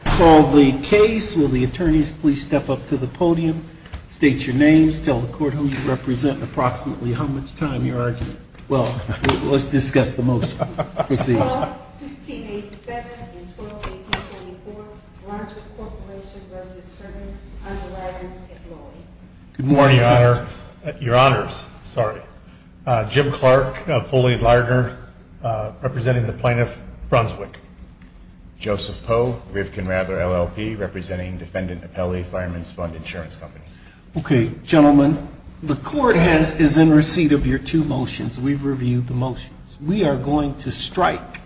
Call the case. Will the attorneys please step up to the podium, state your names, tell the court whom you represent, and approximately how much time you're arguing. Well, let's discuss the motion. Proceed. Call 1587 and 1218.24 Brunswick Corporation v. Certain Underwriters at Lloyd's. Good morning, Your Honor. Your Honors. Sorry. Jim Clark, a full-aid lawyer, representing the plaintiff, Brunswick. Joseph Poe, Rivkin Rather LLP, representing Defendant Apelli Fireman's Fund Insurance Company. Okay, gentlemen, the court is in receipt of your two motions. We've reviewed the motions. We are going to strike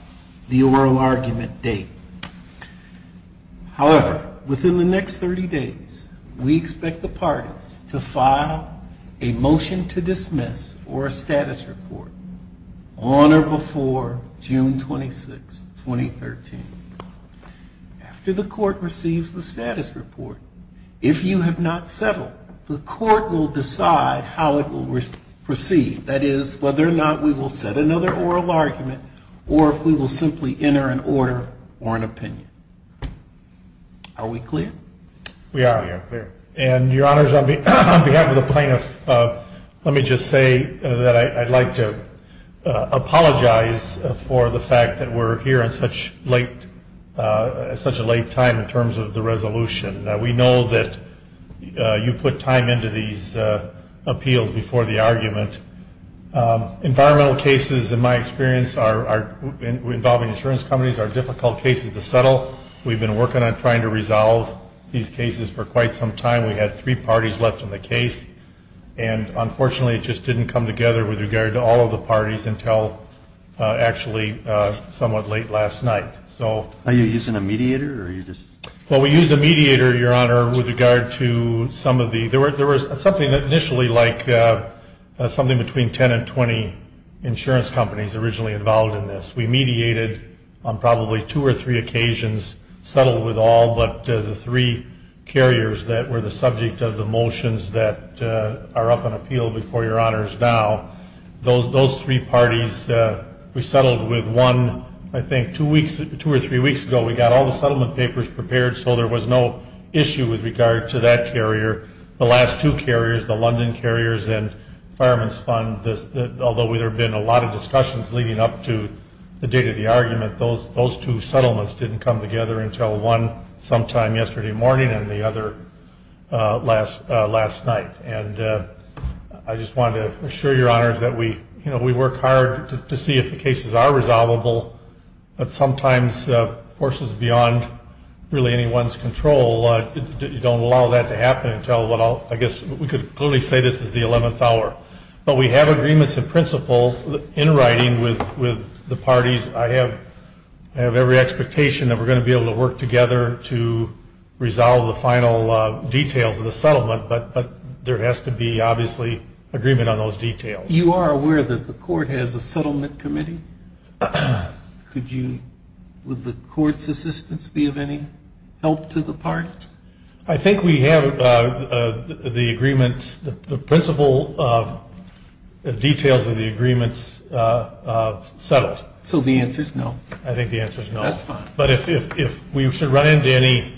the oral argument date. However, within the next 30 days, we expect the parties to file a motion to dismiss or a status report on or before June 26, 2013. After the court receives the status report, if you have not settled, the court will decide how it will proceed. That is, whether or not we will set another oral argument or if we will simply enter an order or an opinion. Are we clear? We are. And, Your Honors, on behalf of the plaintiff, let me just say that I'd like to apologize for the fact that we're here at such a late time in terms of the resolution. We know that you put time into these appeals before the argument. Environmental cases, in my experience, involving insurance companies, are difficult cases to settle. We've been working on trying to resolve these cases for quite some time. We had three parties left in the case. And, unfortunately, it just didn't come together with regard to all of the parties until actually somewhat late last night. Are you using a mediator? Well, we used a mediator, Your Honor, with regard to some of the – there was something initially like something between 10 and 20 insurance companies originally involved in this. We mediated on probably two or three occasions, settled with all but the three carriers that were the subject of the motions that are up on appeal before Your Honors now. Those three parties, we settled with one, I think, two or three weeks ago. We got all the settlement papers prepared, so there was no issue with regard to that carrier. The last two carriers, the London Carriers and Fireman's Fund, although there have been a lot of discussions leading up to the date of the argument, those two settlements didn't come together until one sometime yesterday morning and the other last night. And I just wanted to assure Your Honors that we work hard to see if the cases are resolvable, but sometimes forces beyond really anyone's control don't allow that to happen until – I guess we could clearly say this is the 11th hour. But we have agreements in principle in writing with the parties. I have every expectation that we're going to be able to work together to resolve the final details of the settlement, but there has to be obviously agreement on those details. You are aware that the court has a settlement committee? Could you – would the court's assistance be of any help to the party? I think we have the agreements – the principle details of the agreements settled. So the answer is no? I think the answer is no. That's fine. But if we should run into any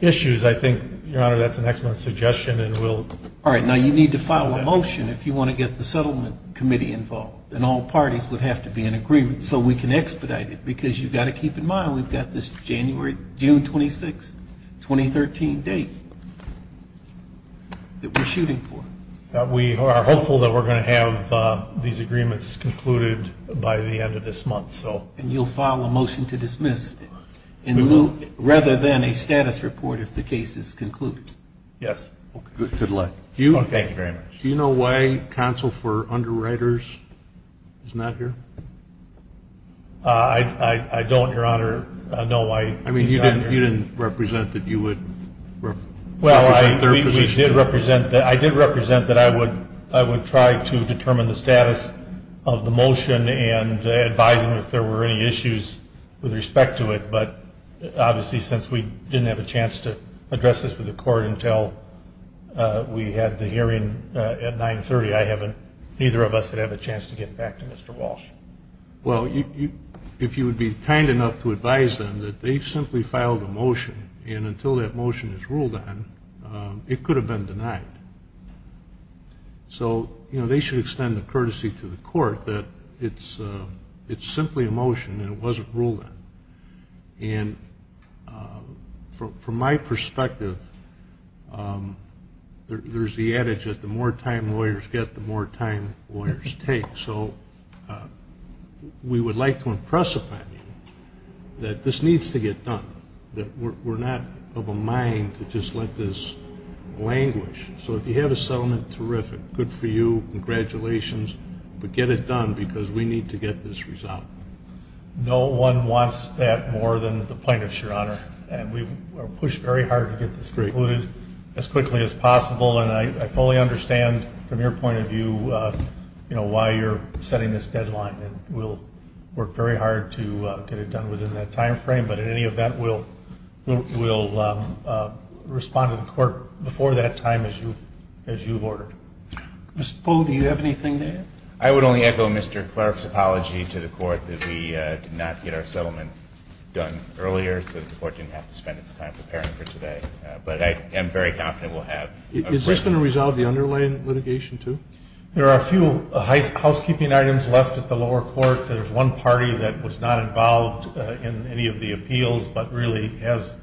issues, I think, Your Honor, that's an excellent suggestion and we'll – All right. Now, you need to file a motion if you want to get the settlement committee involved, and all parties would have to be in agreement so we can expedite it because you've got to keep in mind we've got this January – 2013 date that we're shooting for. We are hopeful that we're going to have these agreements concluded by the end of this month. And you'll file a motion to dismiss rather than a status report if the case is concluded? Yes. Good luck. Thank you very much. Do you know why counsel for underwriters is not here? I don't, Your Honor, know why he's not here. I mean, you didn't represent that you would represent their position? Well, I did represent that I would try to determine the status of the motion and advise them if there were any issues with respect to it, but obviously since we didn't have a chance to address this with the court until we had the hearing at 930, I haven't – neither of us have had a chance to get back to Mr. Walsh. Well, if you would be kind enough to advise them that they simply filed a motion and until that motion is ruled on, it could have been denied. So they should extend the courtesy to the court that it's simply a motion and it wasn't ruled on. And from my perspective, there's the adage that the more time lawyers get, the more time lawyers take. So we would like to impress upon you that this needs to get done, that we're not of a mind to just let this languish. So if you have a settlement, terrific, good for you, congratulations, but get it done because we need to get this resolved. No one wants that more than the plaintiffs, Your Honor, and we push very hard to get this concluded as quickly as possible, and I fully understand from your point of view why you're setting this deadline and we'll work very hard to get it done within that time frame, but in any event, we'll respond to the court before that time as you've ordered. Mr. Polo, do you have anything to add? I would only echo Mr. Clark's apology to the court that we did not get our settlement done earlier so that the court didn't have to spend its time preparing for today. But I am very confident we'll have. Is this going to resolve the underlying litigation too? There are a few housekeeping items left at the lower court. There's one party that was not involved in any of the appeals but really has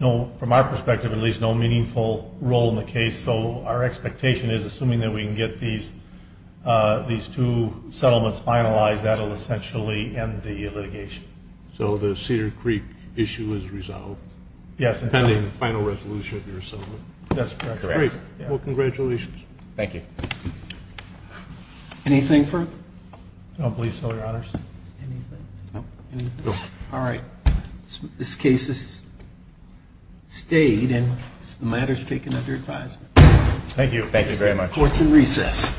from our perspective at least no meaningful role in the case, so our expectation is assuming that we can get these two settlements finalized, that will essentially end the litigation. So the Cedar Creek issue is resolved? Yes. Depending on the final resolution of your settlement. That's correct. Great. Well, congratulations. Thank you. Anything further? No, please, Your Honors. Anything? No. All right. This case is stayed and the matter is taken under advisement. Thank you. Thank you very much. The court is in recess.